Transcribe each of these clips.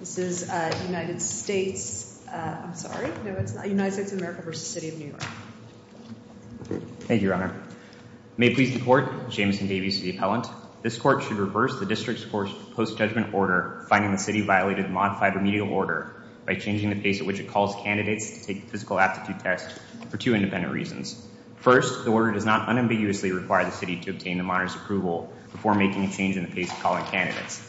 This is United States, I'm sorry, United States of America v. City of New York. Thank you, Your Honor. May it please the Court, Jameson Davies to the Appellant. This Court should reverse the District's post-judgment order finding the City violated the modified remedial order by changing the pace at which it calls candidates to take the physical aptitude test for two independent reasons. First, the order does not unambiguously require the City to obtain the monitor's approval before making a change in the pace of calling candidates.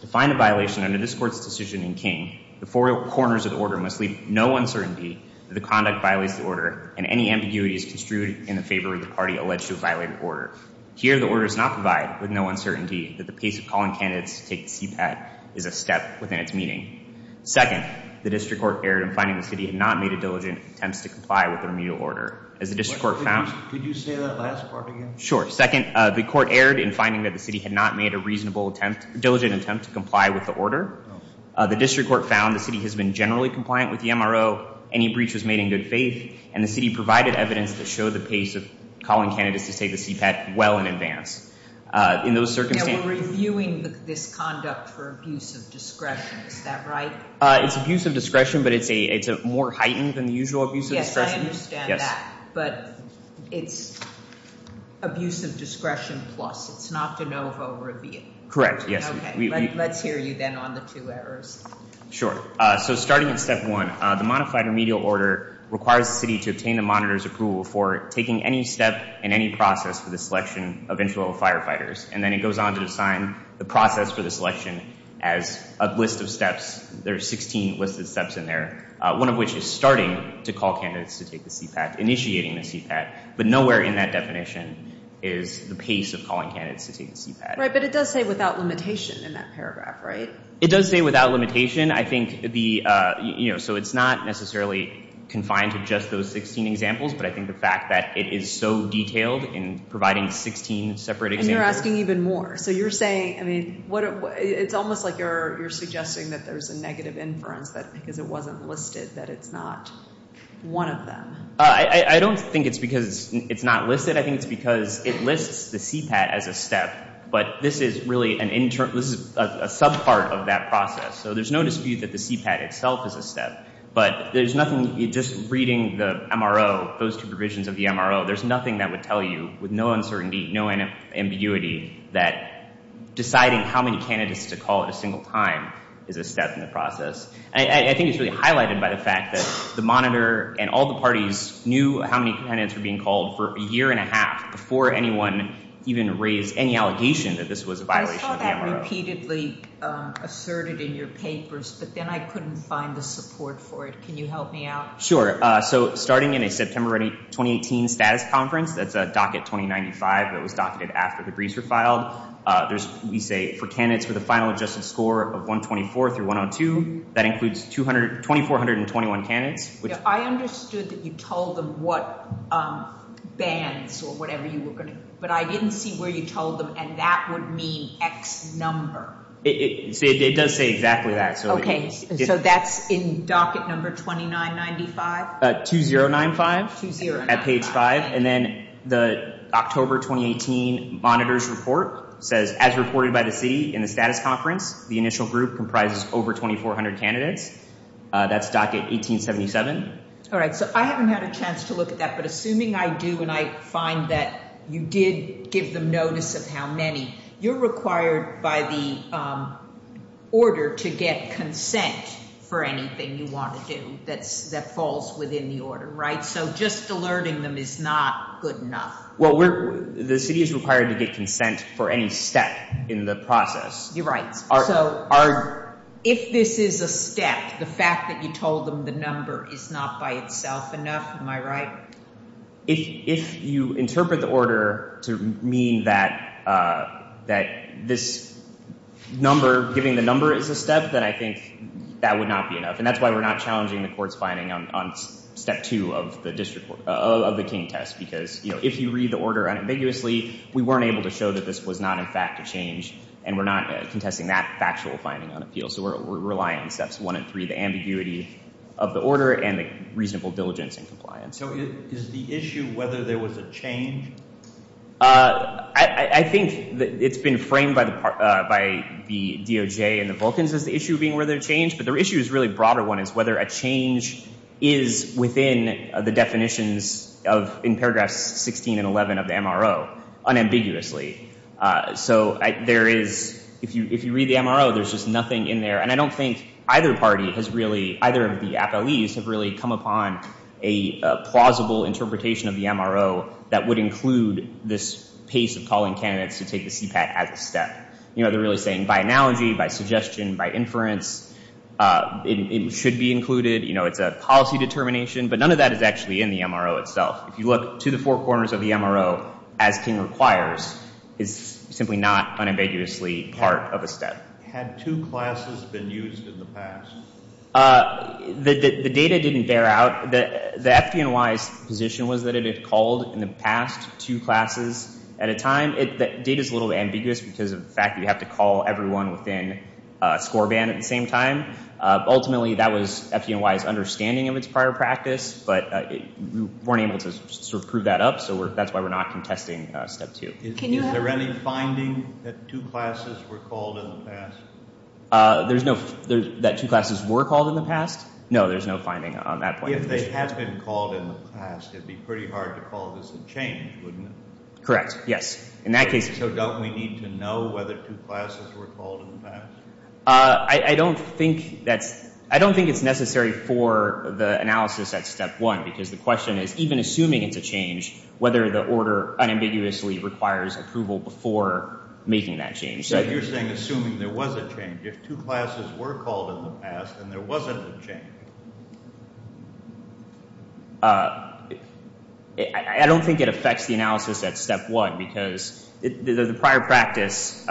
To find a violation under this Court's decision in King, the four corners of the order must leave no uncertainty that the conduct violates the order and any ambiguity is construed in the favor of the party alleged to have violated the order. Here, the order does not provide with no uncertainty that the pace of calling candidates to take the CPAT is a step within its meaning. Second, the District Court erred in finding the City had not made a diligent attempt to comply with the remedial order. Could you say that last part again? Sure. Second, the Court erred in finding that the City had not made a reasonable attempt, diligent attempt to comply with the order. The District Court found the City has been generally compliant with the MRO, any breach was made in good faith, and the City provided evidence that showed the pace of calling candidates to take the CPAT well in advance. In those circumstances... Now, we're reviewing this conduct for abuse of discretion. Is that right? It's abuse of discretion, but it's more heightened than the usual abuse of discretion. I understand that, but it's abuse of discretion plus. It's not de novo review. Correct, yes. Okay, let's hear you then on the two errors. Sure. So starting in Step 1, the modified remedial order requires the City to obtain the monitor's approval for taking any step in any process for the selection of infill firefighters, and then it goes on to assign the process for the selection as a list of steps. There are 16 listed steps in there, one of which is starting to call candidates to take the CPAT, initiating the CPAT, but nowhere in that definition is the pace of calling candidates to take the CPAT. Right, but it does say without limitation in that paragraph, right? It does say without limitation. I think the, you know, so it's not necessarily confined to just those 16 examples, but I think the fact that it is so detailed in providing 16 separate examples... And you're asking even more. So you're saying, I mean, it's almost like you're suggesting that there's a negative inference because it wasn't listed, that it's not one of them. I don't think it's because it's not listed. I think it's because it lists the CPAT as a step, but this is really a subpart of that process. So there's no dispute that the CPAT itself is a step, but there's nothing just reading the MRO, those two provisions of the MRO, there's nothing that would tell you with no uncertainty, no ambiguity that deciding how many candidates to call at a single time is a step in the process. I think it's really highlighted by the fact that the Monitor and all the parties knew how many candidates were being called for a year and a half before anyone even raised any allegation that this was a violation of the MRO. I saw that repeatedly asserted in your papers, but then I couldn't find the support for it. Can you help me out? Sure. So starting in a September 2018 status conference, that's a docket 2095 that was docketed after the briefs were filed. We say for candidates with a final adjusted score of 124 through 102, that includes 2,421 candidates. I understood that you told them what bands or whatever you were going to, but I didn't see where you told them, and that would mean X number. It does say exactly that. Okay, so that's in docket number 2995? 2095 at page five, and then the October 2018 Monitor's report says, as reported by the city in the status conference, the initial group comprises over 2,400 candidates. That's docket 1877. All right, so I haven't had a chance to look at that, but assuming I do and I find that you did give them notice of how many, you're required by the order to get consent for anything you want to do that falls within the order, right? So just alerting them is not good enough. Well, the city is required to get consent for any step in the process. You're right. So if this is a step, the fact that you told them the number is not by itself enough, am I right? If you interpret the order to mean that this number, giving the number is a step, then I think that would not be enough, and that's why we're not challenging the court's finding on step 2 of the King test, because if you read the order unambiguously, we weren't able to show that this was not, in fact, a change, and we're not contesting that factual finding on appeal. So we're relying on steps 1 and 3, the ambiguity of the order and the reasonable diligence and compliance. So is the issue whether there was a change? I think it's been framed by the DOJ and the Vulcans as the issue being whether there's a change, but the issue is a really broader one, is whether a change is within the definitions of, in paragraphs 16 and 11 of the MRO unambiguously. So there is, if you read the MRO, there's just nothing in there, and I don't think either party has really, either of the appellees have really come upon a plausible interpretation of the MRO that would include this pace of calling candidates to take the CPAT as a step. You know, they're really saying by analogy, by suggestion, by inference, it should be included. You know, it's a policy determination, but none of that is actually in the MRO itself. If you look to the four corners of the MRO as King requires, it's simply not unambiguously part of a step. Had two classes been used in the past? The data didn't bear out. The FDNY's position was that it had called in the past two classes at a time. The data is a little ambiguous because of the fact that you have to call everyone within score band at the same time. Ultimately, that was FDNY's understanding of its prior practice, but we weren't able to sort of prove that up, so that's why we're not contesting step two. Is there any finding that two classes were called in the past? There's no—that two classes were called in the past? No, there's no finding on that point. If they had been called in the past, it would be pretty hard to call this a change, wouldn't it? Correct, yes. In that case— So don't we need to know whether two classes were called in the past? I don't think that's—I don't think it's necessary for the analysis at step one because the question is, even assuming it's a change, whether the order unambiguously requires approval before making that change. So if you're saying assuming there was a change, if two classes were called in the past and there wasn't a change? I don't think it affects the analysis at step one because the prior practice—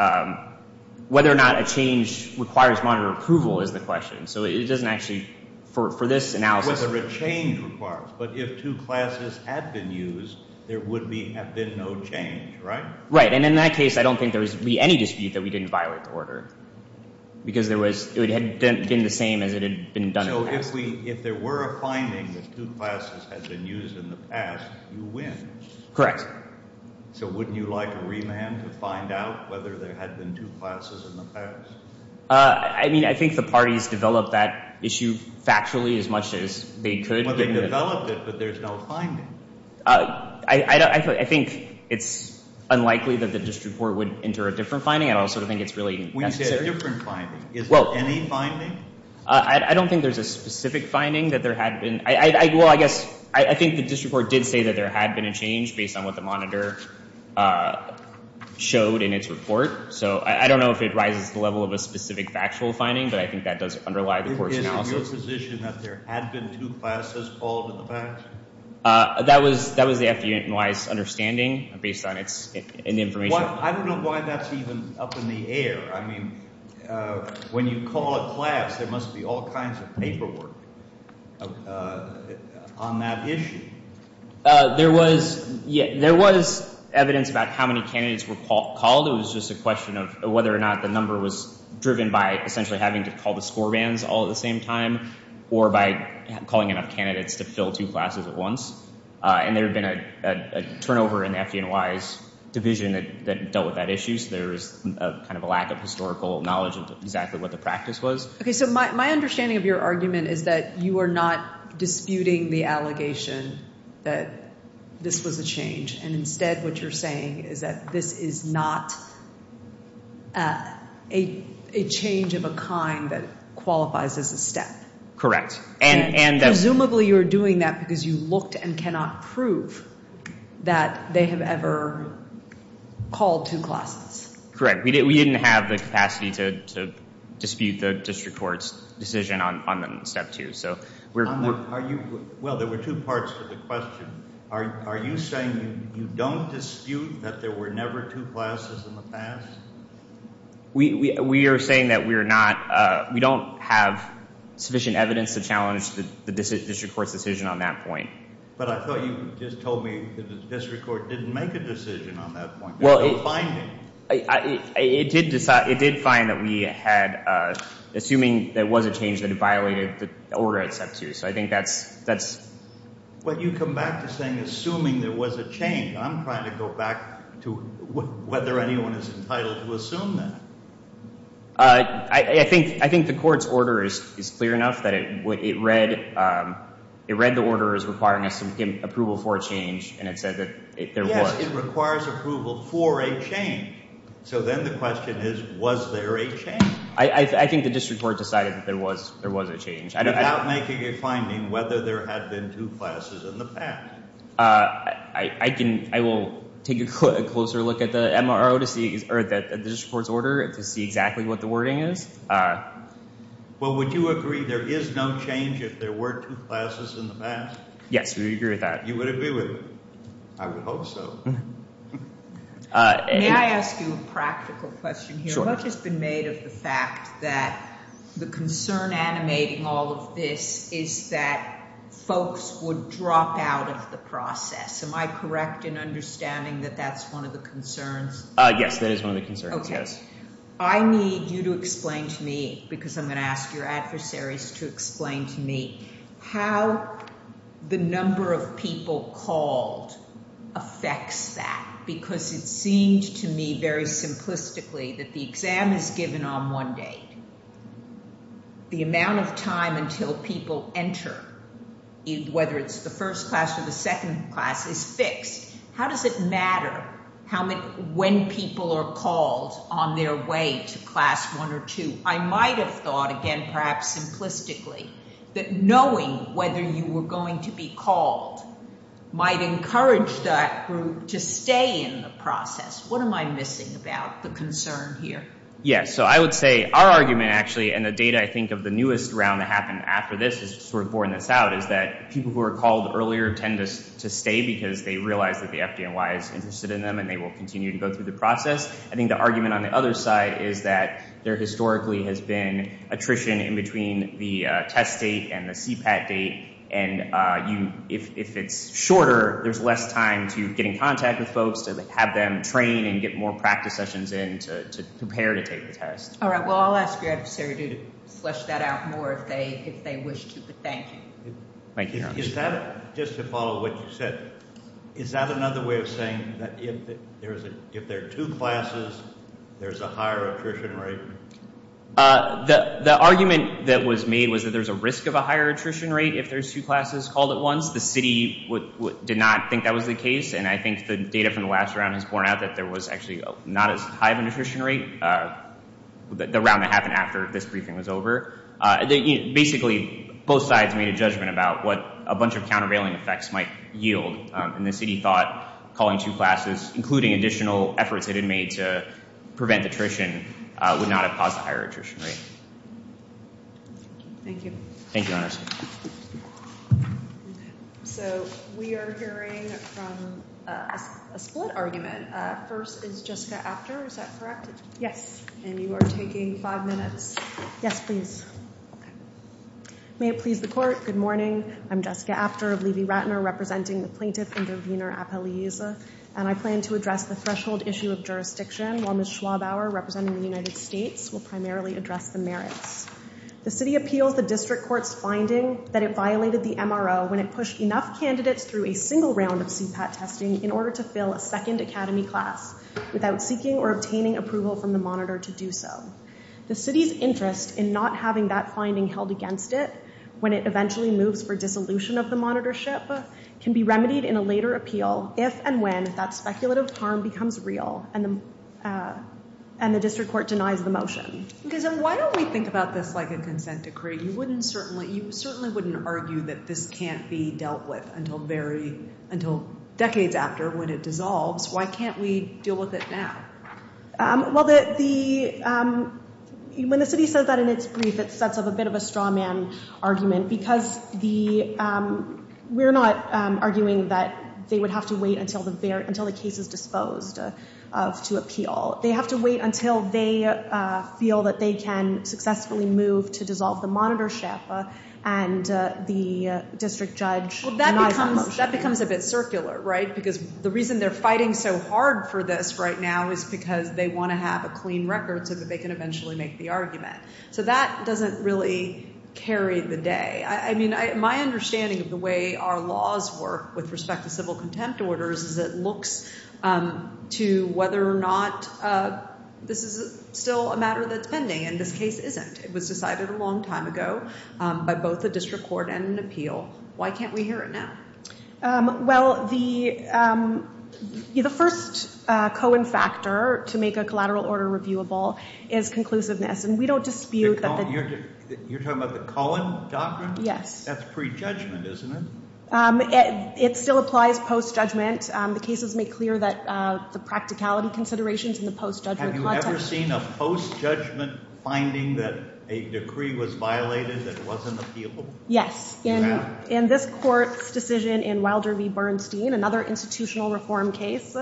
whether or not a change requires monitor approval is the question, so it doesn't actually—for this analysis— change requires, but if two classes had been used, there would have been no change, right? Right, and in that case, I don't think there would be any dispute that we didn't violate the order because there was—it would have been the same as it had been done in the past. So if there were a finding that two classes had been used in the past, you win? Correct. So wouldn't you like a remand to find out whether there had been two classes in the past? I mean, I think the parties developed that issue factually as much as they could. Well, they developed it, but there's no finding. I think it's unlikely that the district court would enter a different finding. I don't sort of think it's really necessary. When you say a different finding, is there any finding? I don't think there's a specific finding that there had been— well, I guess I think the district court did say that there had been a change based on what the monitor showed in its report. So I don't know if it rises to the level of a specific factual finding, but I think that does underlie the court's analysis. Is it your position that there had been two classes called in the past? That was the FDNY's understanding based on its information. I don't know why that's even up in the air. I mean, when you call a class, there must be all kinds of paperwork on that issue. There was evidence about how many candidates were called. It was just a question of whether or not the number was driven by essentially having to call the score bands all at the same time or by calling enough candidates to fill two classes at once. And there had been a turnover in the FDNY's division that dealt with that issue, so there was kind of a lack of historical knowledge of exactly what the practice was. Okay, so my understanding of your argument is that you are not disputing the allegation that this was a change, and instead what you're saying is that this is not a change of a kind that qualifies as a step. Correct. And presumably you're doing that because you looked and cannot prove that they have ever called two classes. Correct. We didn't have the capacity to dispute the district court's decision on step two. Well, there were two parts to the question. Are you saying you don't dispute that there were never two classes in the past? We are saying that we don't have sufficient evidence to challenge the district court's decision on that point. But I thought you just told me that the district court didn't make a decision on that point. Well, it did find that we had, assuming there was a change, that it violated the order at step two, so I think that's... But you come back to saying assuming there was a change. I'm trying to go back to whether anyone is entitled to assume that. I think the court's order is clear enough that it read the order as requiring approval for a change, and it said that there was. Yes, it requires approval for a change. So then the question is, was there a change? I think the district court decided that there was a change. Without making a finding whether there had been two classes in the past. I will take a closer look at the MRO to see, or the district court's order, to see exactly what the wording is. Well, would you agree there is no change if there were two classes in the past? Yes, we would agree with that. You would agree with me. I would hope so. May I ask you a practical question here? Sure. How much has been made of the fact that the concern animating all of this is that folks would drop out of the process? Am I correct in understanding that that's one of the concerns? Yes, that is one of the concerns, yes. Okay. I need you to explain to me, because I'm going to ask your adversaries to explain to me, how the number of people called affects that. Because it seemed to me very simplistically that the exam is given on one date. The amount of time until people enter, whether it's the first class or the second class, is fixed. How does it matter when people are called on their way to class one or two? I might have thought, again, perhaps simplistically, that knowing whether you were going to be called might encourage that group to stay in the process. What am I missing about the concern here? Yes. So I would say our argument, actually, and the data, I think, of the newest round that happened after this has sort of borne this out, is that people who were called earlier tend to stay because they realize that the FDNY is interested in them and they will continue to go through the process. I think the argument on the other side is that there historically has been attrition in between the test date and the CPAT date, and if it's shorter, there's less time to get in contact with folks, to have them train and get more practice sessions in to prepare to take the test. All right. Well, I'll ask your adversary to flesh that out more if they wish to, but thank you. Thank you. Is that, just to follow what you said, is that another way of saying that if there are two classes, there's a higher attrition rate? The argument that was made was that there's a risk of a higher attrition rate if there's two classes called at once. The city did not think that was the case, and I think the data from the last round has borne out that there was actually not as high of an attrition rate, the round that happened after this briefing was over. Basically, both sides made a judgment about what a bunch of countervailing effects might yield, and the city thought calling two classes, including additional efforts it had made to prevent attrition, would not have caused a higher attrition rate. Thank you. Thank you, Anderson. So we are hearing from a split argument. First is Jessica Apter, is that correct? Yes. And you are taking five minutes. Yes, please. May it please the court. Good morning. I'm Jessica Apter of Levy-Ratner, representing the Plaintiff Intervenor Appellees, and I plan to address the threshold issue of jurisdiction, while Ms. Schwabauer, representing the United States, will primarily address the merits. The city appeals the district court's finding that it violated the MRO when it pushed enough candidates through a single round of CPAT testing in order to fill a second academy class without seeking or obtaining approval from the monitor to do so. The city's interest in not having that finding held against it when it eventually moves for dissolution of the monitorship can be remedied in a later appeal if and when that speculative harm becomes real and the district court denies the motion. Why don't we think about this like a consent decree? You certainly wouldn't argue that this can't be dealt with until decades after when it dissolves. Why can't we deal with it now? Well, when the city says that in its brief, it sets up a bit of a strawman argument because we're not arguing that they would have to wait until the case is disposed to appeal. They have to wait until they feel that they can successfully move to dissolve the monitorship and the district judge denies that motion. Well, that becomes a bit circular, right, because the reason they're fighting so hard for this right now is because they want to have a clean record so that they can eventually make the argument. So that doesn't really carry the day. I mean, my understanding of the way our laws work with respect to civil contempt orders is it looks to whether or not this is still a matter that's pending, and this case isn't. It was decided a long time ago by both the district court and an appeal. Why can't we hear it now? Well, the first coen factor to make a collateral order reviewable is conclusiveness, and we don't dispute that the- You're talking about the Cohen doctrine? Yes. That's pre-judgment, isn't it? It still applies post-judgment. The cases make clear that the practicality considerations in the post-judgment context- Have you ever seen a post-judgment finding that a decree was violated that wasn't appealable? Yes. You have? In this court's decision in Wilder v. Bernstein, another institutional reform case,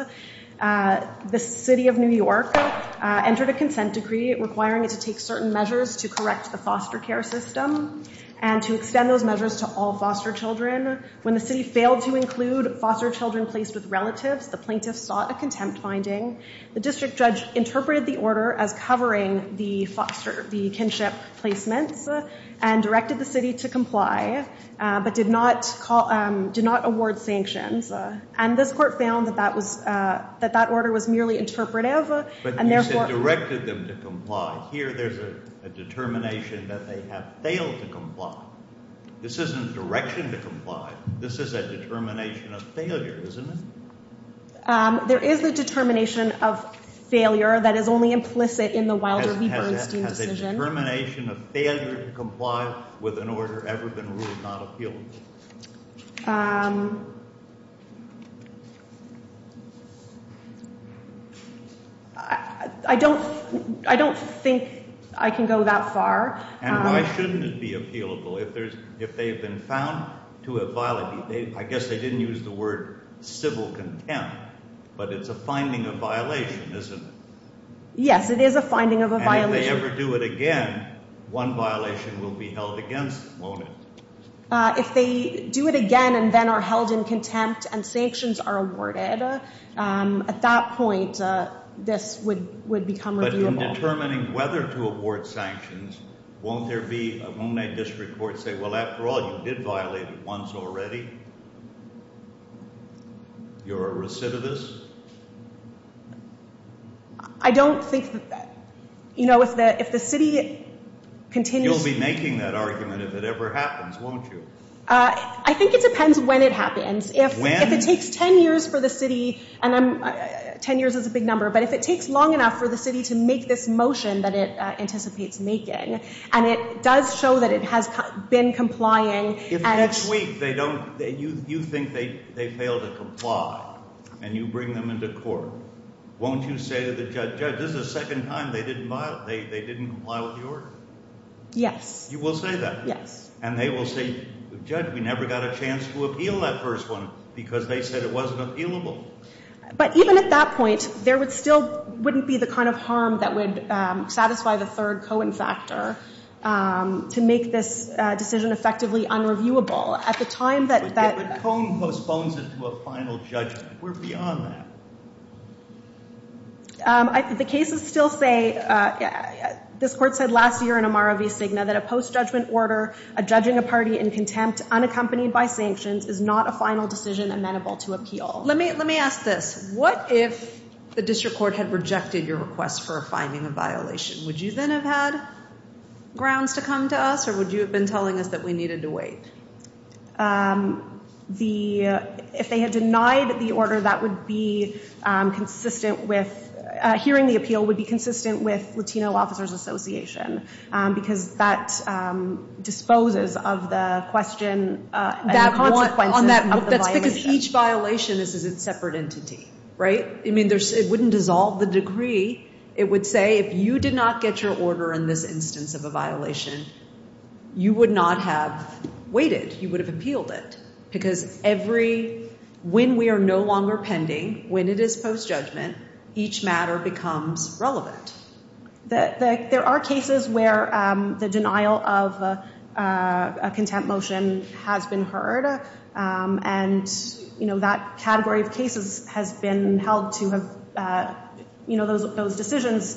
the city of New York entered a consent decree requiring it to take certain measures to correct the foster care system and to extend those measures to all foster children. When the city failed to include foster children placed with relatives, the plaintiffs sought a contempt finding. The district judge interpreted the order as covering the kinship placements and directed the city to comply but did not award sanctions. And this court found that that order was merely interpretive and therefore- But you said directed them to comply. Here there's a determination that they have failed to comply. This isn't a direction to comply. This is a determination of failure, isn't it? There is a determination of failure that is only implicit in the Wilder v. Bernstein decision. Is a determination of failure to comply with an order ever been ruled not appealable? I don't think I can go that far. And why shouldn't it be appealable if they've been found to have violated? I guess they didn't use the word civil contempt, but it's a finding of violation, isn't it? Yes, it is a finding of a violation. If they ever do it again, one violation will be held against them, won't it? If they do it again and then are held in contempt and sanctions are awarded, at that point this would become reviewable. But in determining whether to award sanctions, won't there be a Monet district court say, well, after all, you did violate it once already? You're a recidivist? I don't think that, you know, if the city continues to be making that argument, if it ever happens, won't you? I think it depends when it happens. If it takes ten years for the city and ten years is a big number, but if it takes long enough for the city to make this motion that it anticipates making and it does show that it has been complying. If next week you think they fail to comply and you bring them into court, won't you say to the judge, judge, this is the second time they didn't comply with the order? Yes. You will say that? Yes. And they will say, judge, we never got a chance to appeal that first one because they said it wasn't appealable? But even at that point there still wouldn't be the kind of harm that would satisfy the third co-infactor to make this decision effectively unreviewable. But Cone postpones it to a final judgment. We're beyond that. The cases still say, this court said last year in Amaro v. Cigna, that a post-judgment order, a judging a party in contempt unaccompanied by sanctions, is not a final decision amenable to appeal. Let me ask this. What if the district court had rejected your request for a finding of violation? Would you then have had grounds to come to us or would you have been telling us that we needed to wait? If they had denied the order, that would be consistent with, hearing the appeal would be consistent with Latino Officers Association because that disposes of the question and the consequences of the violation. That's because each violation is a separate entity, right? I mean, it wouldn't dissolve the degree. It would say, if you did not get your order in this instance of a violation, you would not have waited. You would have appealed it because every, when we are no longer pending, when it is post-judgment, each matter becomes relevant. There are cases where the denial of a contempt motion has been heard and, you know, that category of cases has been held to have, you know, those decisions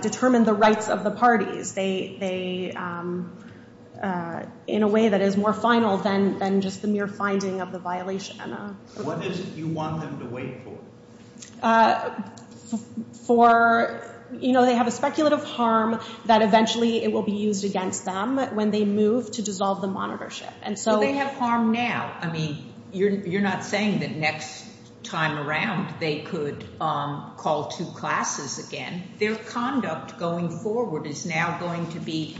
determine the rights of the parties. They, in a way, that is more final than just the mere finding of the violation. What is it you want them to wait for? For, you know, they have a speculative harm that eventually it will be used against them when they move to dissolve the monitorship. Do they have harm now? I mean, you're not saying that next time around they could call two classes again. Their conduct going forward is now going to be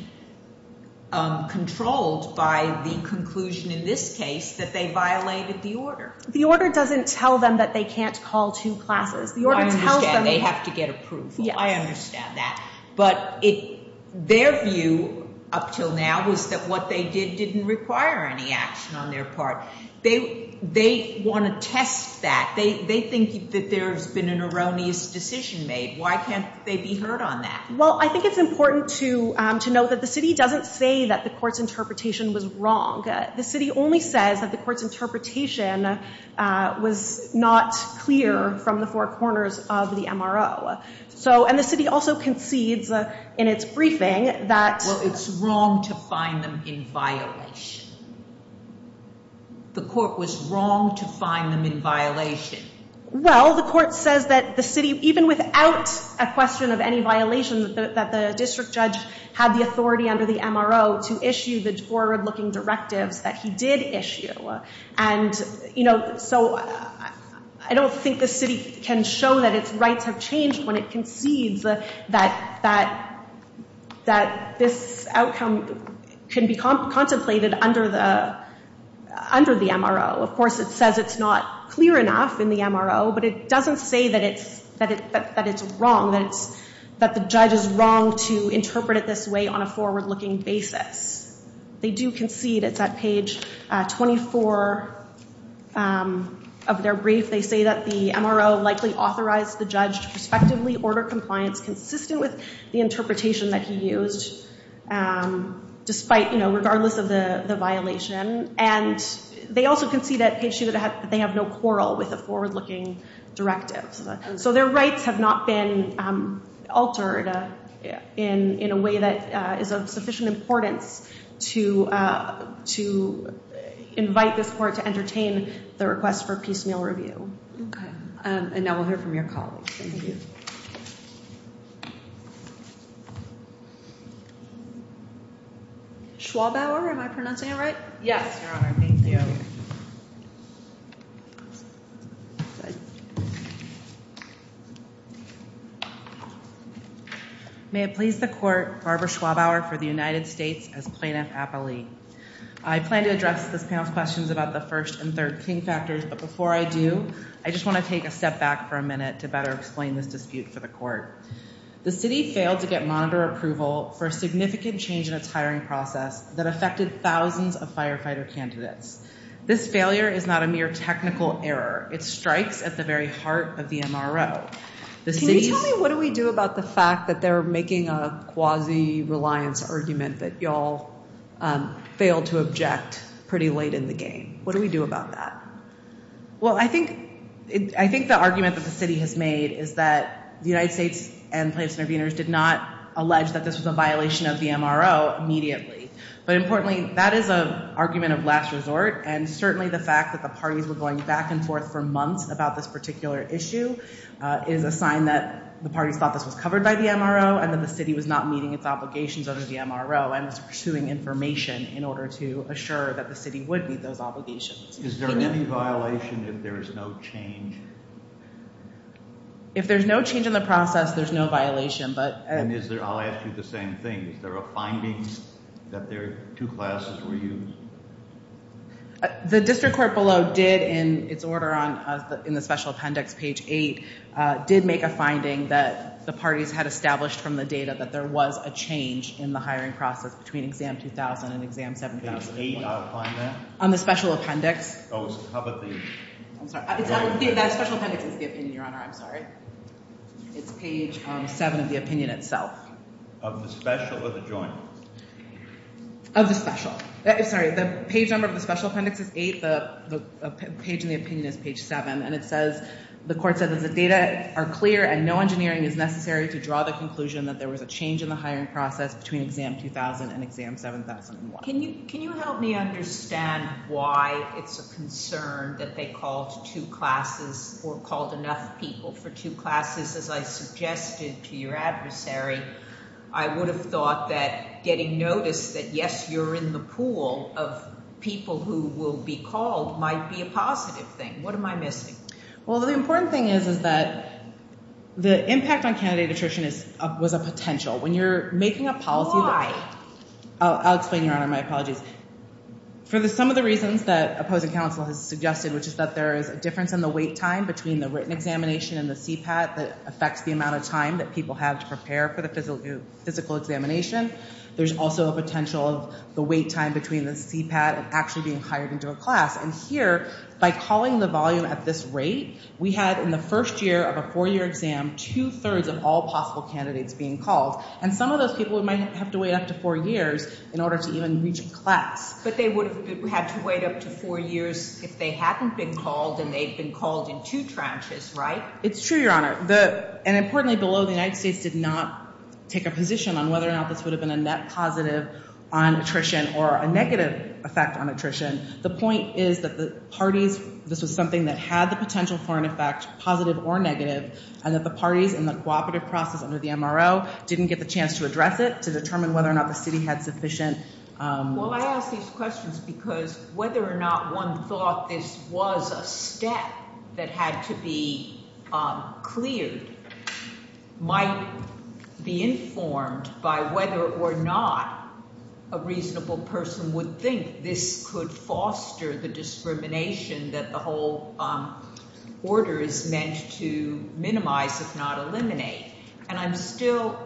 controlled by the conclusion, in this case, that they violated the order. The order doesn't tell them that they can't call two classes. The order tells them they have to get approval. I understand that. But their view up until now was that what they did didn't require any action on their part. They want to test that. They think that there's been an erroneous decision made. Why can't they be heard on that? Well, I think it's important to note that the city doesn't say that the court's interpretation was wrong. The city only says that the court's interpretation was not clear from the four corners of the MRO. And the city also concedes in its briefing that- Well, it's wrong to find them in violation. The court was wrong to find them in violation. Well, the court says that the city, even without a question of any violations, that the district judge had the authority under the MRO to issue the forward-looking directives that he did issue. So I don't think the city can show that its rights have changed when it concedes that this outcome can be contemplated under the MRO. Of course, it says it's not clear enough in the MRO, but it doesn't say that it's wrong, that the judge is wrong to interpret it this way on a forward-looking basis. They do concede. It's at page 24 of their brief. They say that the MRO likely authorized the judge to prospectively order compliance consistent with the interpretation that he used, despite, you know, regardless of the violation. And they also concede at page 2 that they have no quarrel with the forward-looking directives. So their rights have not been altered in a way that is of sufficient importance to invite this court to entertain the request for piecemeal review. Okay. And now we'll hear from your colleagues. Thank you. Schwabauer, am I pronouncing it right? Yes, Your Honor. Thank you. May it please the court, Barbara Schwabauer for the United States as Plaintiff Appellee. I plan to address this panel's questions about the first and third king factors, but before I do, I just want to take a step back for a minute to better explain this dispute for the court. The city failed to get monitor approval for a significant change in its hiring process that affected thousands of firefighter candidates. This failure is not a mere technical error. It strikes at the very heart of the MRO. Can you tell me what do we do about the fact that they're making a quasi-reliance argument that y'all failed to object pretty late in the game? What do we do about that? Well, I think the argument that the city has made is that the United States and plaintiff's interveners did not allege that this was a violation of the MRO immediately. But importantly, that is an argument of last resort, and certainly the fact that the parties were going back and forth for months about this particular issue is a sign that the parties thought this was covered by the MRO and that the city was not meeting its obligations under the MRO and was pursuing information in order to assure that the city would meet those obligations. Is there any violation if there is no change? If there's no change in the process, there's no violation. And I'll ask you the same thing. Is there a finding that their two classes were used? The district court below did, in its order in the special appendix, page 8, did make a finding that the parties had established from the data that there was a change in the hiring process between exam 2000 and exam 7000. Page 8 outlined that? On the special appendix. Oh, how about the right there? That special appendix is the opinion, Your Honor. I'm sorry. It's page 7 of the opinion itself. Of the special or the joint? Of the special. Sorry, the page number of the special appendix is 8, the page in the opinion is page 7, and it says, the court said that the data are clear and no engineering is necessary to draw the conclusion that there was a change in the hiring process between exam 2000 and exam 7001. Can you help me understand why it's a concern that they called two classes or called enough people for two classes? As I suggested to your adversary, I would have thought that getting notice that yes, you're in the pool of people who will be called might be a positive thing. What am I missing? Well, the important thing is that the impact on candidate attrition was a potential. When you're making a policy... Why? I'll explain, Your Honor, my apologies. For some of the reasons that opposing counsel has suggested, which is that there is a difference in the wait time between the written examination and the CPAT that affects the amount of time that people have to prepare for the physical examination, there's also a potential of the wait time between the CPAT and actually being hired into a class. And here, by calling the volume at this rate, we had in the first year of a four-year exam two-thirds of all possible candidates being called. And some of those people might have to wait up to four years in order to even reach a class. But they would have had to wait up to four years if they hadn't been called, and they'd been called in two tranches, right? It's true, Your Honor. And importantly, below, the United States did not take a position on whether or not this would have been a net positive on attrition or a negative effect on attrition. The point is that the parties, this was something that had the potential for an effect, positive or negative, and that the parties in the cooperative process under the MRO didn't get the chance to address it to determine whether or not the city had sufficient- Well, I ask these questions because whether or not one thought this was a step that had to be cleared might be informed by whether or not a reasonable person would think this could foster the discrimination that the whole order is meant to minimize if not eliminate. And I'm still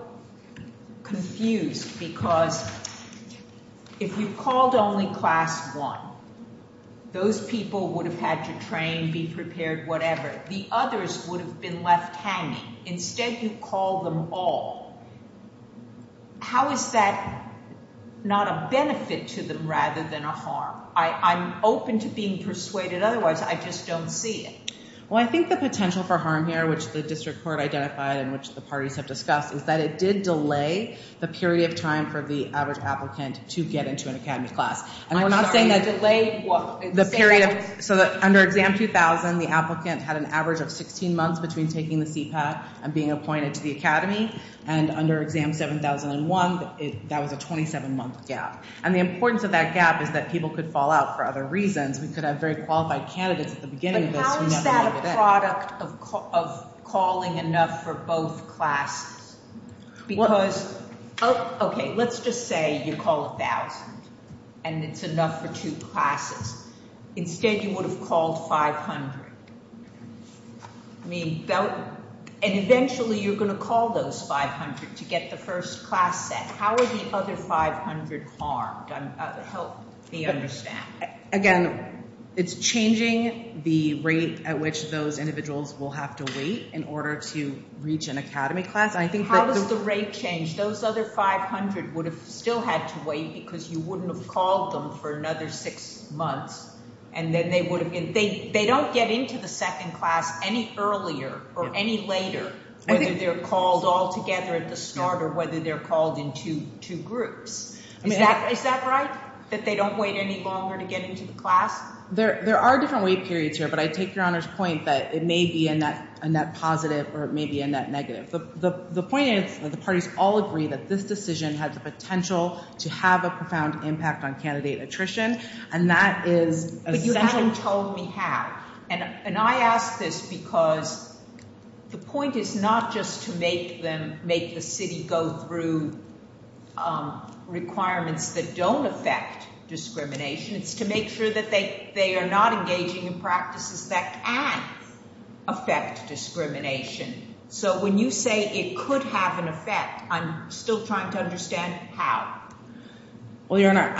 confused because if you called only class one, those people would have had to train, be prepared, whatever. The others would have been left hanging. Instead, you called them all. How is that not a benefit to them rather than a harm? I'm open to being persuaded. Otherwise, I just don't see it. Well, I think the potential for harm here, which the district court identified and which the parties have discussed, is that it did delay the period of time for the average applicant to get into an academy class. And we're not saying that delay the period. So under Exam 2000, the applicant had an average of 16 months between taking the CPAC and being appointed to the academy. And under Exam 7001, that was a 27-month gap. And the importance of that gap is that people could fall out for other reasons. We could have very qualified candidates at the beginning of this. But how is that a product of calling enough for both classes? Because, okay, let's just say you call 1,000 and it's enough for two classes. Instead, you would have called 500. I mean, and eventually you're going to call those 500 to get the first class set. How are the other 500 harmed? Help me understand. Again, it's changing the rate at which those individuals will have to wait in order to reach an academy class. How does the rate change? Those other 500 would have still had to wait because you wouldn't have called them for another six months. They don't get into the second class any earlier or any later, whether they're called altogether at the start or whether they're called in two groups. Is that right, that they don't wait any longer to get into the class? There are different wait periods here. But I take Your Honor's point that it may be a net positive or it may be a net negative. The point is that the parties all agree that this decision has the potential to have a profound impact on candidate attrition, and that is essential. But you haven't told me how. And I ask this because the point is not just to make them make the city go through requirements that don't affect discrimination. It's to make sure that they are not engaging in practices that can affect discrimination. So when you say it could have an effect, I'm still trying to understand how. Well, Your Honor,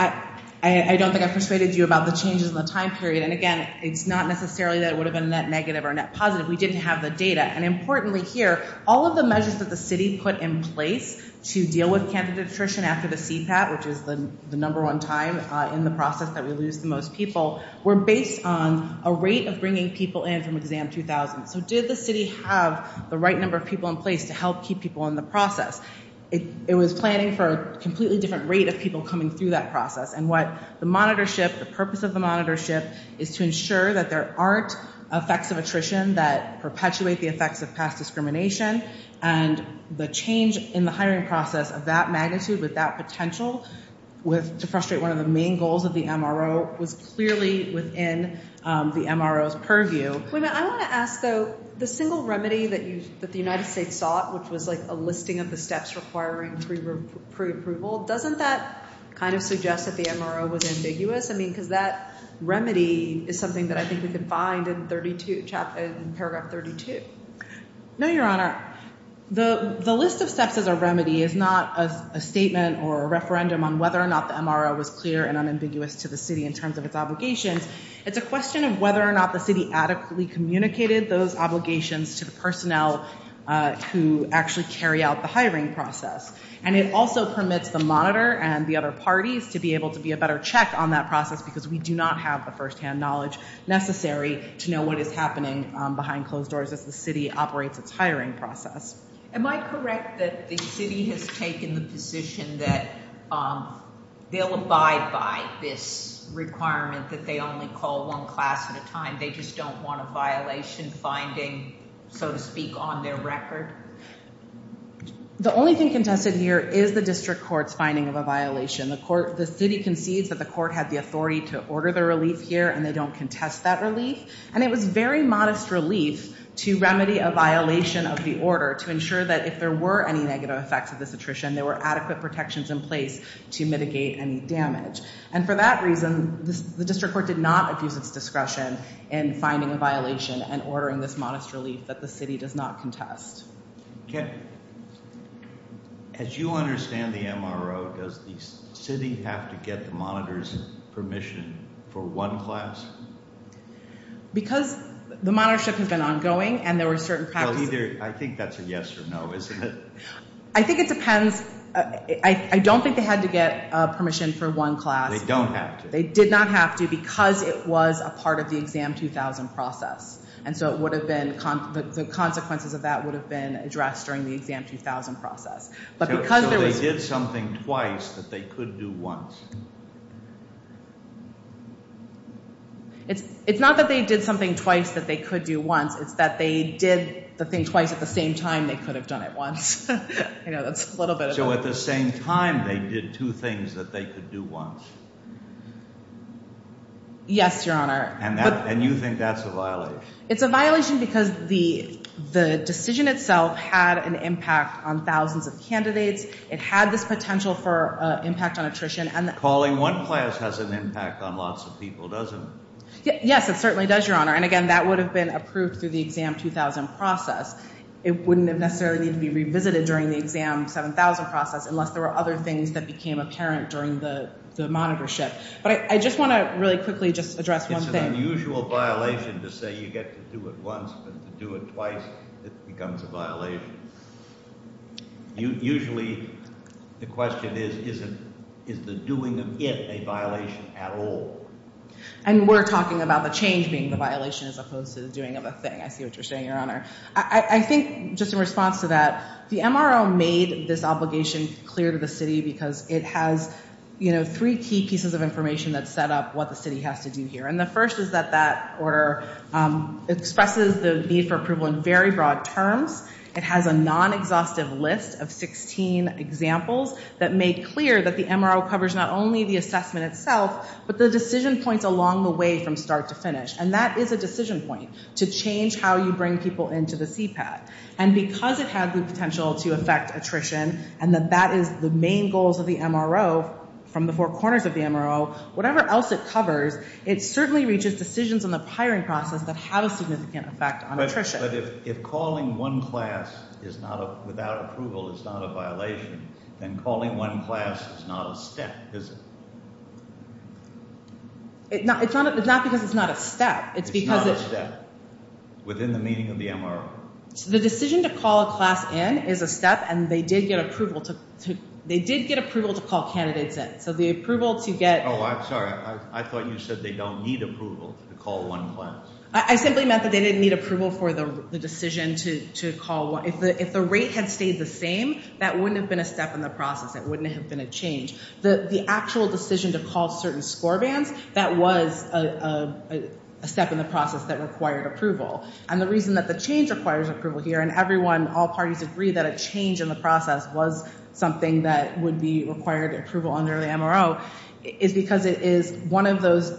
I don't think I've persuaded you about the changes in the time period. And, again, it's not necessarily that it would have been net negative or net positive. We didn't have the data. And importantly here, all of the measures that the city put in place to deal with candidate attrition after the CPAP, which is the number one time in the process that we lose the most people, were based on a rate of bringing people in from exam 2000. So did the city have the right number of people in place to help keep people in the process? It was planning for a completely different rate of people coming through that process. And what the monitorship, the purpose of the monitorship, is to ensure that there aren't effects of attrition that perpetuate the effects of past discrimination. And the change in the hiring process of that magnitude with that potential to frustrate one of the main goals of the MRO was clearly within the MRO's purview. Wait a minute. I want to ask, though, the single remedy that the United States sought, which was a listing of the steps requiring preapproval, doesn't that kind of suggest that the MRO was ambiguous? I mean, because that remedy is something that I think we could find in paragraph 32. No, Your Honor. The list of steps as a remedy is not a statement or a referendum on whether or not the MRO was clear and unambiguous to the city in terms of its obligations. It's a question of whether or not the city adequately communicated those obligations to the personnel who actually carry out the hiring process. And it also permits the monitor and the other parties to be able to be a better check on that process because we do not have the firsthand knowledge necessary to know what is happening behind closed doors as the city operates its hiring process. Am I correct that the city has taken the position that they'll abide by this requirement that they only call one class at a time, they just don't want a violation finding, so to speak, on their record? The only thing contested here is the district court's finding of a violation. The city concedes that the court had the authority to order the relief here and they don't contest that relief. And it was very modest relief to remedy a violation of the order to ensure that if there were any negative effects of this attrition, there were adequate protections in place to mitigate any damage. And for that reason, the district court did not abuse its discretion in finding a violation and ordering this modest relief that the city does not contest. Okay. As you understand the MRO, does the city have to get the monitor's permission for one class? Because the monitorship has been ongoing and there were certain practices. I think that's a yes or no, isn't it? I think it depends. I don't think they had to get permission for one class. They don't have to. They did not have to because it was a part of the Exam 2000 process. And so the consequences of that would have been addressed during the Exam 2000 process. So they did something twice that they could do once? It's not that they did something twice that they could do once. It's that they did the thing twice at the same time they could have done it once. So at the same time they did two things that they could do once? Yes, Your Honor. And you think that's a violation? It's a violation because the decision itself had an impact on thousands of candidates. It had this potential for impact on attrition. Calling one class has an impact on lots of people, doesn't it? Yes, it certainly does, Your Honor. And, again, that would have been approved through the Exam 2000 process. It wouldn't necessarily need to be revisited during the Exam 7000 process unless there were other things that became apparent during the monitorship. But I just want to really quickly just address one thing. It's an unusual violation to say you get to do it once, but to do it twice it becomes a violation. Usually the question is, is the doing of it a violation at all? And we're talking about the change being the violation as opposed to the doing of a thing. I see what you're saying, Your Honor. I think just in response to that, the MRO made this obligation clear to the city because it has three key pieces of information that set up what the city has to do here. And the first is that that order expresses the need for approval in very broad terms. It has a non-exhaustive list of 16 examples that made clear that the MRO covers not only the assessment itself, but the decision points along the way from start to finish. And that is a decision point to change how you bring people into the CPAT. And because it had the potential to affect attrition and that that is the main goals of the MRO from the four corners of the MRO, whatever else it covers, it certainly reaches decisions on the hiring process that have a significant effect on attrition. But if calling one class without approval is not a violation, then calling one class is not a step, is it? It's not because it's not a step. Within the meaning of the MRO. The decision to call a class in is a step, and they did get approval to call candidates in. So the approval to get... Oh, I'm sorry. I thought you said they don't need approval to call one class. I simply meant that they didn't need approval for the decision to call one. If the rate had stayed the same, that wouldn't have been a step in the process. That wouldn't have been a change. The actual decision to call certain score bands, that was a step in the process that required approval. And the reason that the change requires approval here, and everyone, all parties agree that a change in the process was something that would be required approval under the MRO, is because it is one of those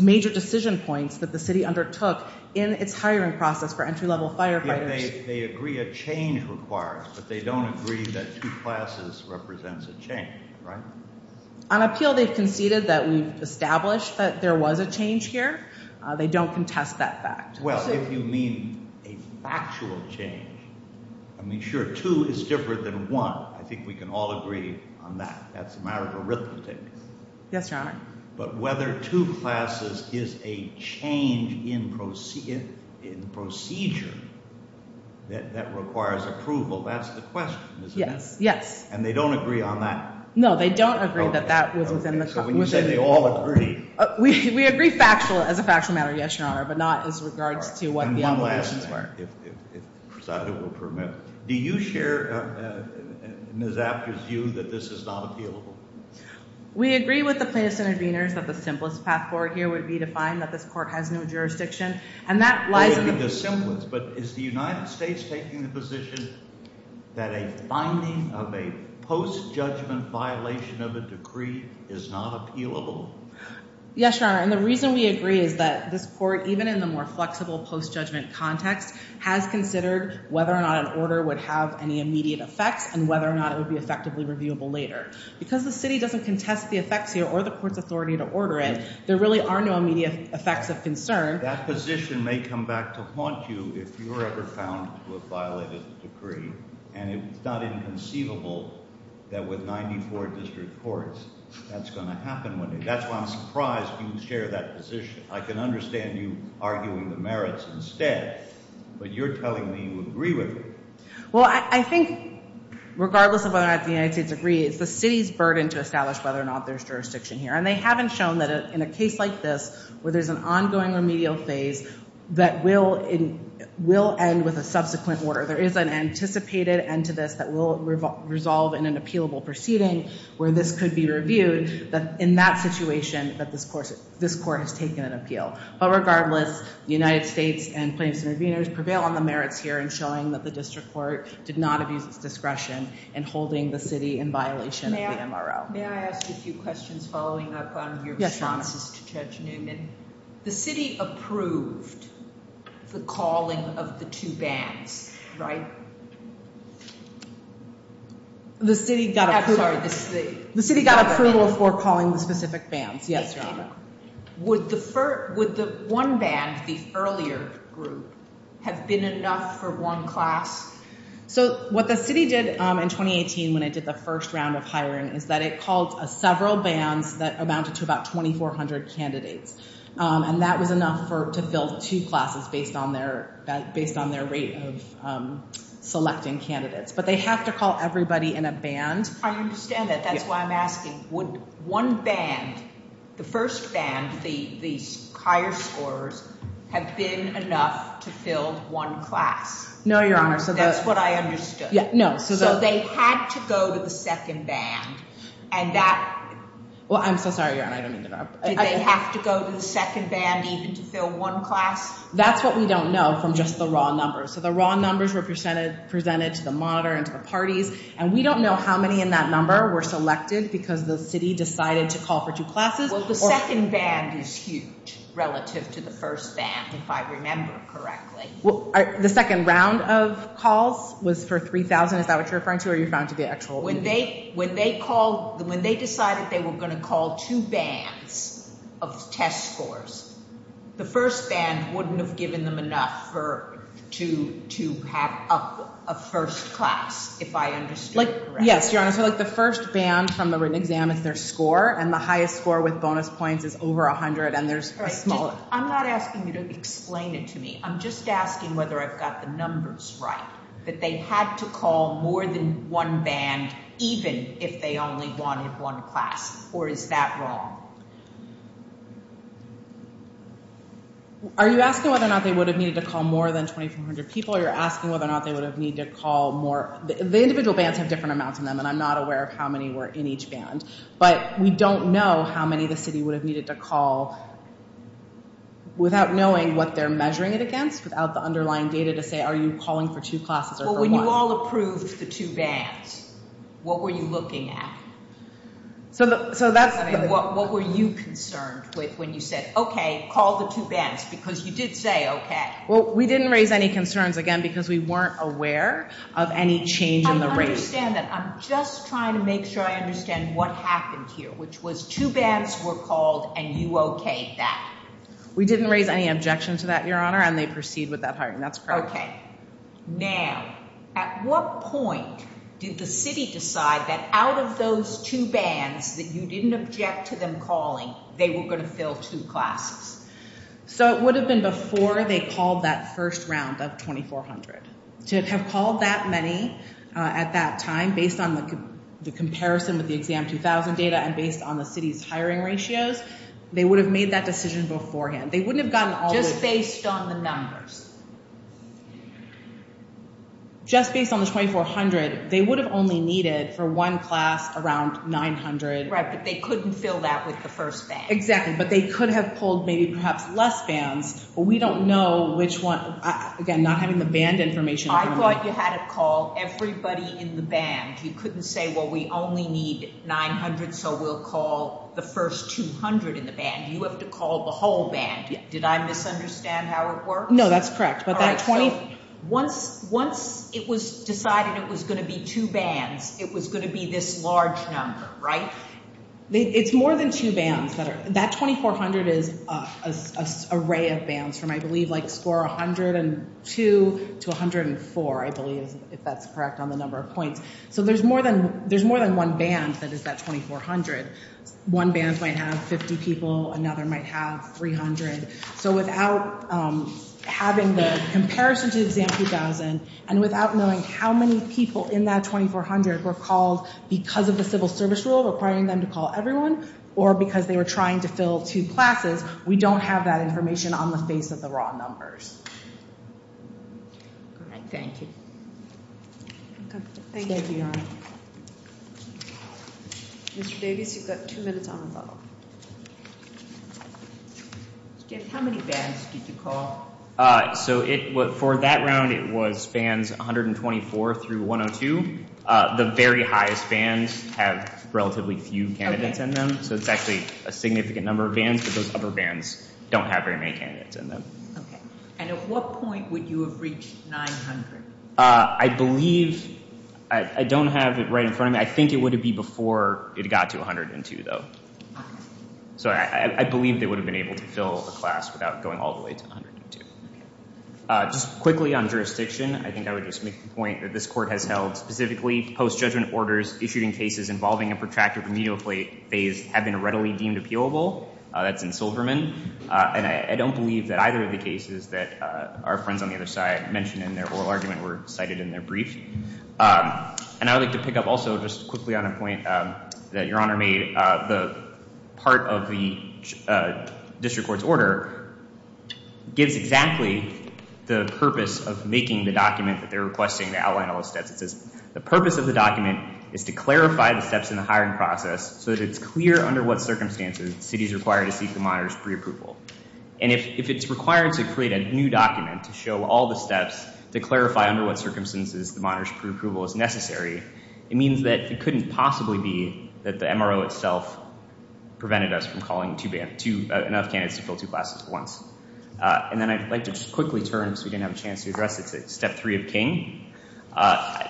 major decision points that the city undertook in its hiring process for entry-level firefighters. I think they agree a change requires, but they don't agree that two classes represents a change, right? On appeal, they've conceded that we've established that there was a change here. They don't contest that fact. Well, if you mean a factual change, I mean, sure, two is different than one. I think we can all agree on that. That's a matter of arithmetic. Yes, Your Honor. But whether two classes is a change in procedure that requires approval, that's the question, isn't it? Yes, yes. And they don't agree on that? No, they don't agree that that was within the context. So when you say they all agree. We agree as a factual matter, yes, Your Honor, but not as regards to what the MROs were. And one last thing, if Presidio will permit. Do you share Ms. After's view that this is not appealable? We agree with the plaintiffs' interveners that the simplest path forward here would be to find that this court has no jurisdiction. And that lies in the— It would be the simplest. But is the United States taking the position that a finding of a post-judgment violation of a decree is not appealable? Yes, Your Honor, and the reason we agree is that this court, even in the more flexible post-judgment context, has considered whether or not an order would have any immediate effects and whether or not it would be effectively reviewable later. Because the city doesn't contest the effects here or the court's authority to order it, there really are no immediate effects of concern. That position may come back to haunt you if you're ever found to have violated the decree, and it's not inconceivable that with 94 district courts that's going to happen one day. That's why I'm surprised you share that position. I can understand you arguing the merits instead, but you're telling me you agree with it. Well, I think regardless of whether or not the United States agrees, the city's burden to establish whether or not there's jurisdiction here, and they haven't shown that in a case like this where there's an ongoing remedial phase that will end with a subsequent order. There is an anticipated end to this that will resolve in an appealable proceeding where this could be reviewed, that in that situation that this court has taken an appeal. But regardless, the United States and plaintiffs' intervenors prevail on the merits here in showing that the district court did not abuse its discretion in holding the city in violation of the MRO. May I ask a few questions following up on your responses to Judge Newman? The city approved the calling of the two bans, right? The city got approval for calling the specific bans, yes, Your Honor. Would the one ban, the earlier group, have been enough for one class? So what the city did in 2018 when it did the first round of hiring is that it called several bans that amounted to about 2,400 candidates. And that was enough to fill two classes based on their rate of selecting candidates. But they have to call everybody in a ban. I understand that. That's why I'm asking. Would one ban, the first ban, the higher scorers, have been enough to fill one class? No, Your Honor. That's what I understood. No. So they had to go to the second ban. Well, I'm so sorry, Your Honor. I didn't mean to interrupt. Did they have to go to the second ban even to fill one class? That's what we don't know from just the raw numbers. So the raw numbers were presented to the monitor and to the parties. And we don't know how many in that number were selected because the city decided to call for two classes. Well, the second ban is huge relative to the first ban, if I remember correctly. The second round of calls was for 3,000. Is that what you're referring to or are you referring to the actual? When they decided they were going to call two bans of test scores, the first ban wouldn't have given them enough to have a first class, if I understood correctly. Yes, Your Honor. So the first ban from the written exam is their score, and the highest score with bonus points is over 100, and there's a smaller. I'm not asking you to explain it to me. I'm just asking whether I've got the numbers right, that they had to call more than one ban even if they only wanted one class, or is that wrong? Are you asking whether or not they would have needed to call more than 2,400 people, or you're asking whether or not they would have needed to call more? The individual bans have different amounts in them, and I'm not aware of how many were in each ban. But we don't know how many the city would have needed to call without knowing what they're measuring it against, without the underlying data to say, are you calling for two classes or for one? Well, when you all approved the two bans, what were you looking at? What were you concerned with when you said, okay, call the two bans, because you did say, okay. Well, we didn't raise any concerns, again, because we weren't aware of any change in the rate. I understand that. I'm just trying to make sure I understand what happened here, which was two bans were called and you okayed that. We didn't raise any objection to that, Your Honor, and they proceed with that hiring. That's correct. Okay. Now, at what point did the city decide that out of those two bans that you didn't object to them calling, they were going to fill two classes? So, it would have been before they called that first round of 2,400. To have called that many at that time, based on the comparison with the Exam 2000 data and based on the city's hiring ratios, they would have made that decision beforehand. They wouldn't have gotten all the… Just based on the numbers. Just based on the 2,400, they would have only needed for one class around 900. Right, but they couldn't fill that with the first ban. Exactly, but they could have pulled maybe perhaps less bans, but we don't know which one. Again, not having the band information… I thought you had it called everybody in the band. You couldn't say, well, we only need 900, so we'll call the first 200 in the band. You have to call the whole band. Did I misunderstand how it works? No, that's correct. Once it was decided it was going to be two bans, it was going to be this large number, right? It's more than two bans. That 2,400 is an array of bans from, I believe, score 102 to 104, I believe, if that's correct on the number of points. So there's more than one ban that is that 2,400. One ban might have 50 people, another might have 300. So without having the comparison to Exam 2000 and without knowing how many people in that 2,400 were called because of the civil service rule requiring them to call everyone or because they were trying to fill two classes, we don't have that information on the face of the raw numbers. All right, thank you. Thank you. Thank you, Your Honor. Mr. Davis, you've got two minutes on the phone. Jeff, how many bans did you call? So for that round, it was bans 124 through 102. The very highest bans have relatively few candidates in them, so it's actually a significant number of bans, but those upper bans don't have very many candidates in them. Okay, and at what point would you have reached 900? I believe, I don't have it right in front of me. I think it would have been before it got to 102, though. So I believe they would have been able to fill a class without going all the way to 102. Just quickly on jurisdiction, I think I would just make the point that this court has held specifically post-judgment orders issuing cases involving a protracted remedial phase have been readily deemed appealable. That's in Silverman, and I don't believe that either of the cases that our friends on the other side mentioned in their oral argument were cited in their brief. And I would like to pick up also just quickly on a point that Your Honor made. The part of the district court's order gives exactly the purpose of making the document that they're requesting to outline all the steps. It says, the purpose of the document is to clarify the steps in the hiring process so that it's clear under what circumstances the city is required to seek the monitor's preapproval. And if it's required to create a new document to show all the steps to clarify under what circumstances the monitor's preapproval is necessary, it means that it couldn't possibly be that the MRO itself prevented us from calling enough candidates to fill two classes at once. And then I'd like to just quickly turn, because we didn't have a chance to address it, to Step 3 of King.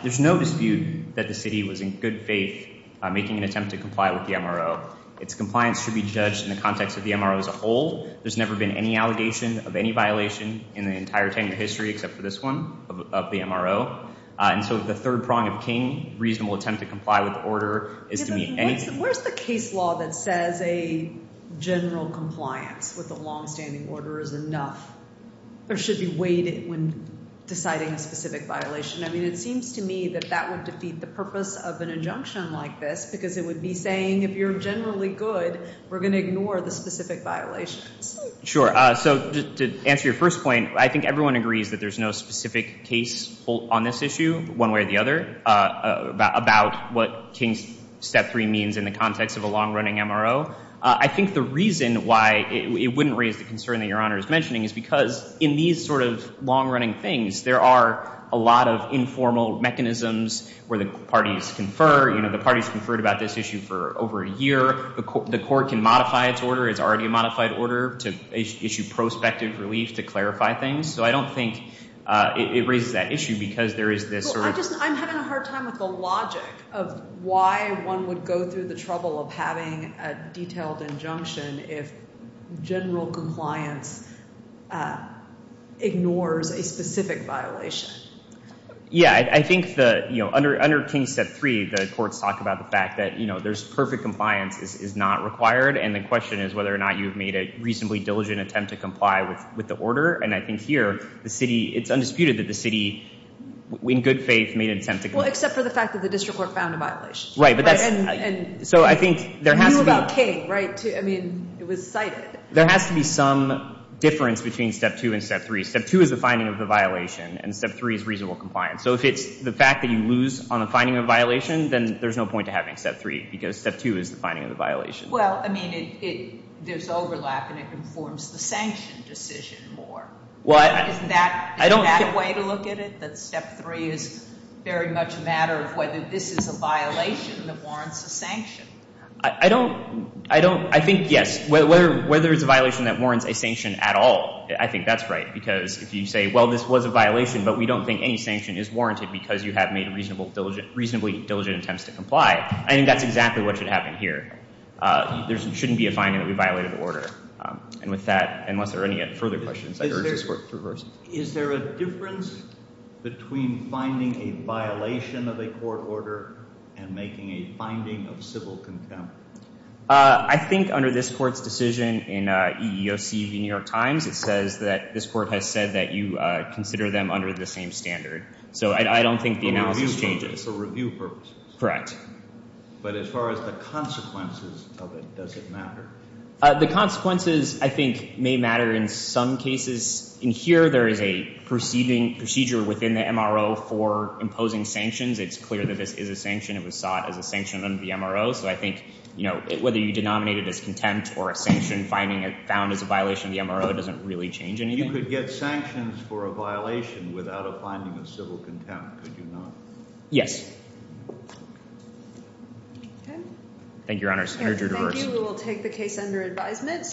There's no dispute that the city was in good faith making an attempt to comply with the MRO. Its compliance should be judged in the context of the MRO as a whole. There's never been any allegation of any violation in the entire tenure history except for this one of the MRO. And so the third prong of King, reasonable attempt to comply with the order, is to meet anything. Where's the case law that says a general compliance with a longstanding order is enough or should be weighted when deciding a specific violation? I mean, it seems to me that that would defeat the purpose of an injunction like this, because it would be saying if you're generally good, we're going to ignore the specific violations. Sure. So to answer your first point, I think everyone agrees that there's no specific case on this issue, one way or the other, about what King's Step 3 means in the context of a long-running MRO. I think the reason why it wouldn't raise the concern that Your Honor is mentioning is because in these sort of long-running things, there are a lot of informal mechanisms where the parties confer. You know, the parties conferred about this issue for over a year. The court can modify its order. It's already a modified order to issue prospective relief to clarify things. So I don't think it raises that issue because there is this sort of— if general compliance ignores a specific violation. Yeah. I think under King's Step 3, the courts talk about the fact that there's perfect compliance is not required, and the question is whether or not you've made a reasonably diligent attempt to comply with the order. And I think here, the city—it's undisputed that the city, in good faith, made an attempt to comply. Well, except for the fact that the district court found a violation. Right. So I think there has to be— You knew about King, right? I mean, it was cited. There has to be some difference between Step 2 and Step 3. Step 2 is the finding of the violation, and Step 3 is reasonable compliance. So if it's the fact that you lose on the finding of a violation, then there's no point to having Step 3 because Step 2 is the finding of the violation. Well, I mean, there's overlap, and it informs the sanction decision more. Isn't that a way to look at it? That Step 3 is very much a matter of whether this is a violation that warrants a sanction. I don't—I think, yes. Whether it's a violation that warrants a sanction at all, I think that's right because if you say, well, this was a violation, but we don't think any sanction is warranted because you have made reasonably diligent attempts to comply, I think that's exactly what should happen here. There shouldn't be a finding that we violated the order. And with that, unless there are any further questions, I urge this Court to reverse it. Is there a difference between finding a violation of a court order and making a finding of civil contempt? I think under this Court's decision in EEOC v. New York Times, it says that this Court has said that you consider them under the same standard. So I don't think the analysis changes. For review purposes. Correct. But as far as the consequences of it, does it matter? The consequences, I think, may matter in some cases. In here, there is a procedure within the MRO for imposing sanctions. It's clear that this is a sanction. It was sought as a sanction under the MRO. So I think whether you denominate it as contempt or a sanction found as a violation of the MRO doesn't really change anything. You could get sanctions for a violation without a finding of civil contempt. Could you not? Yes. Okay. Thank you, Your Honors. I urge you to reverse. Thank you. We will take the case under advisement.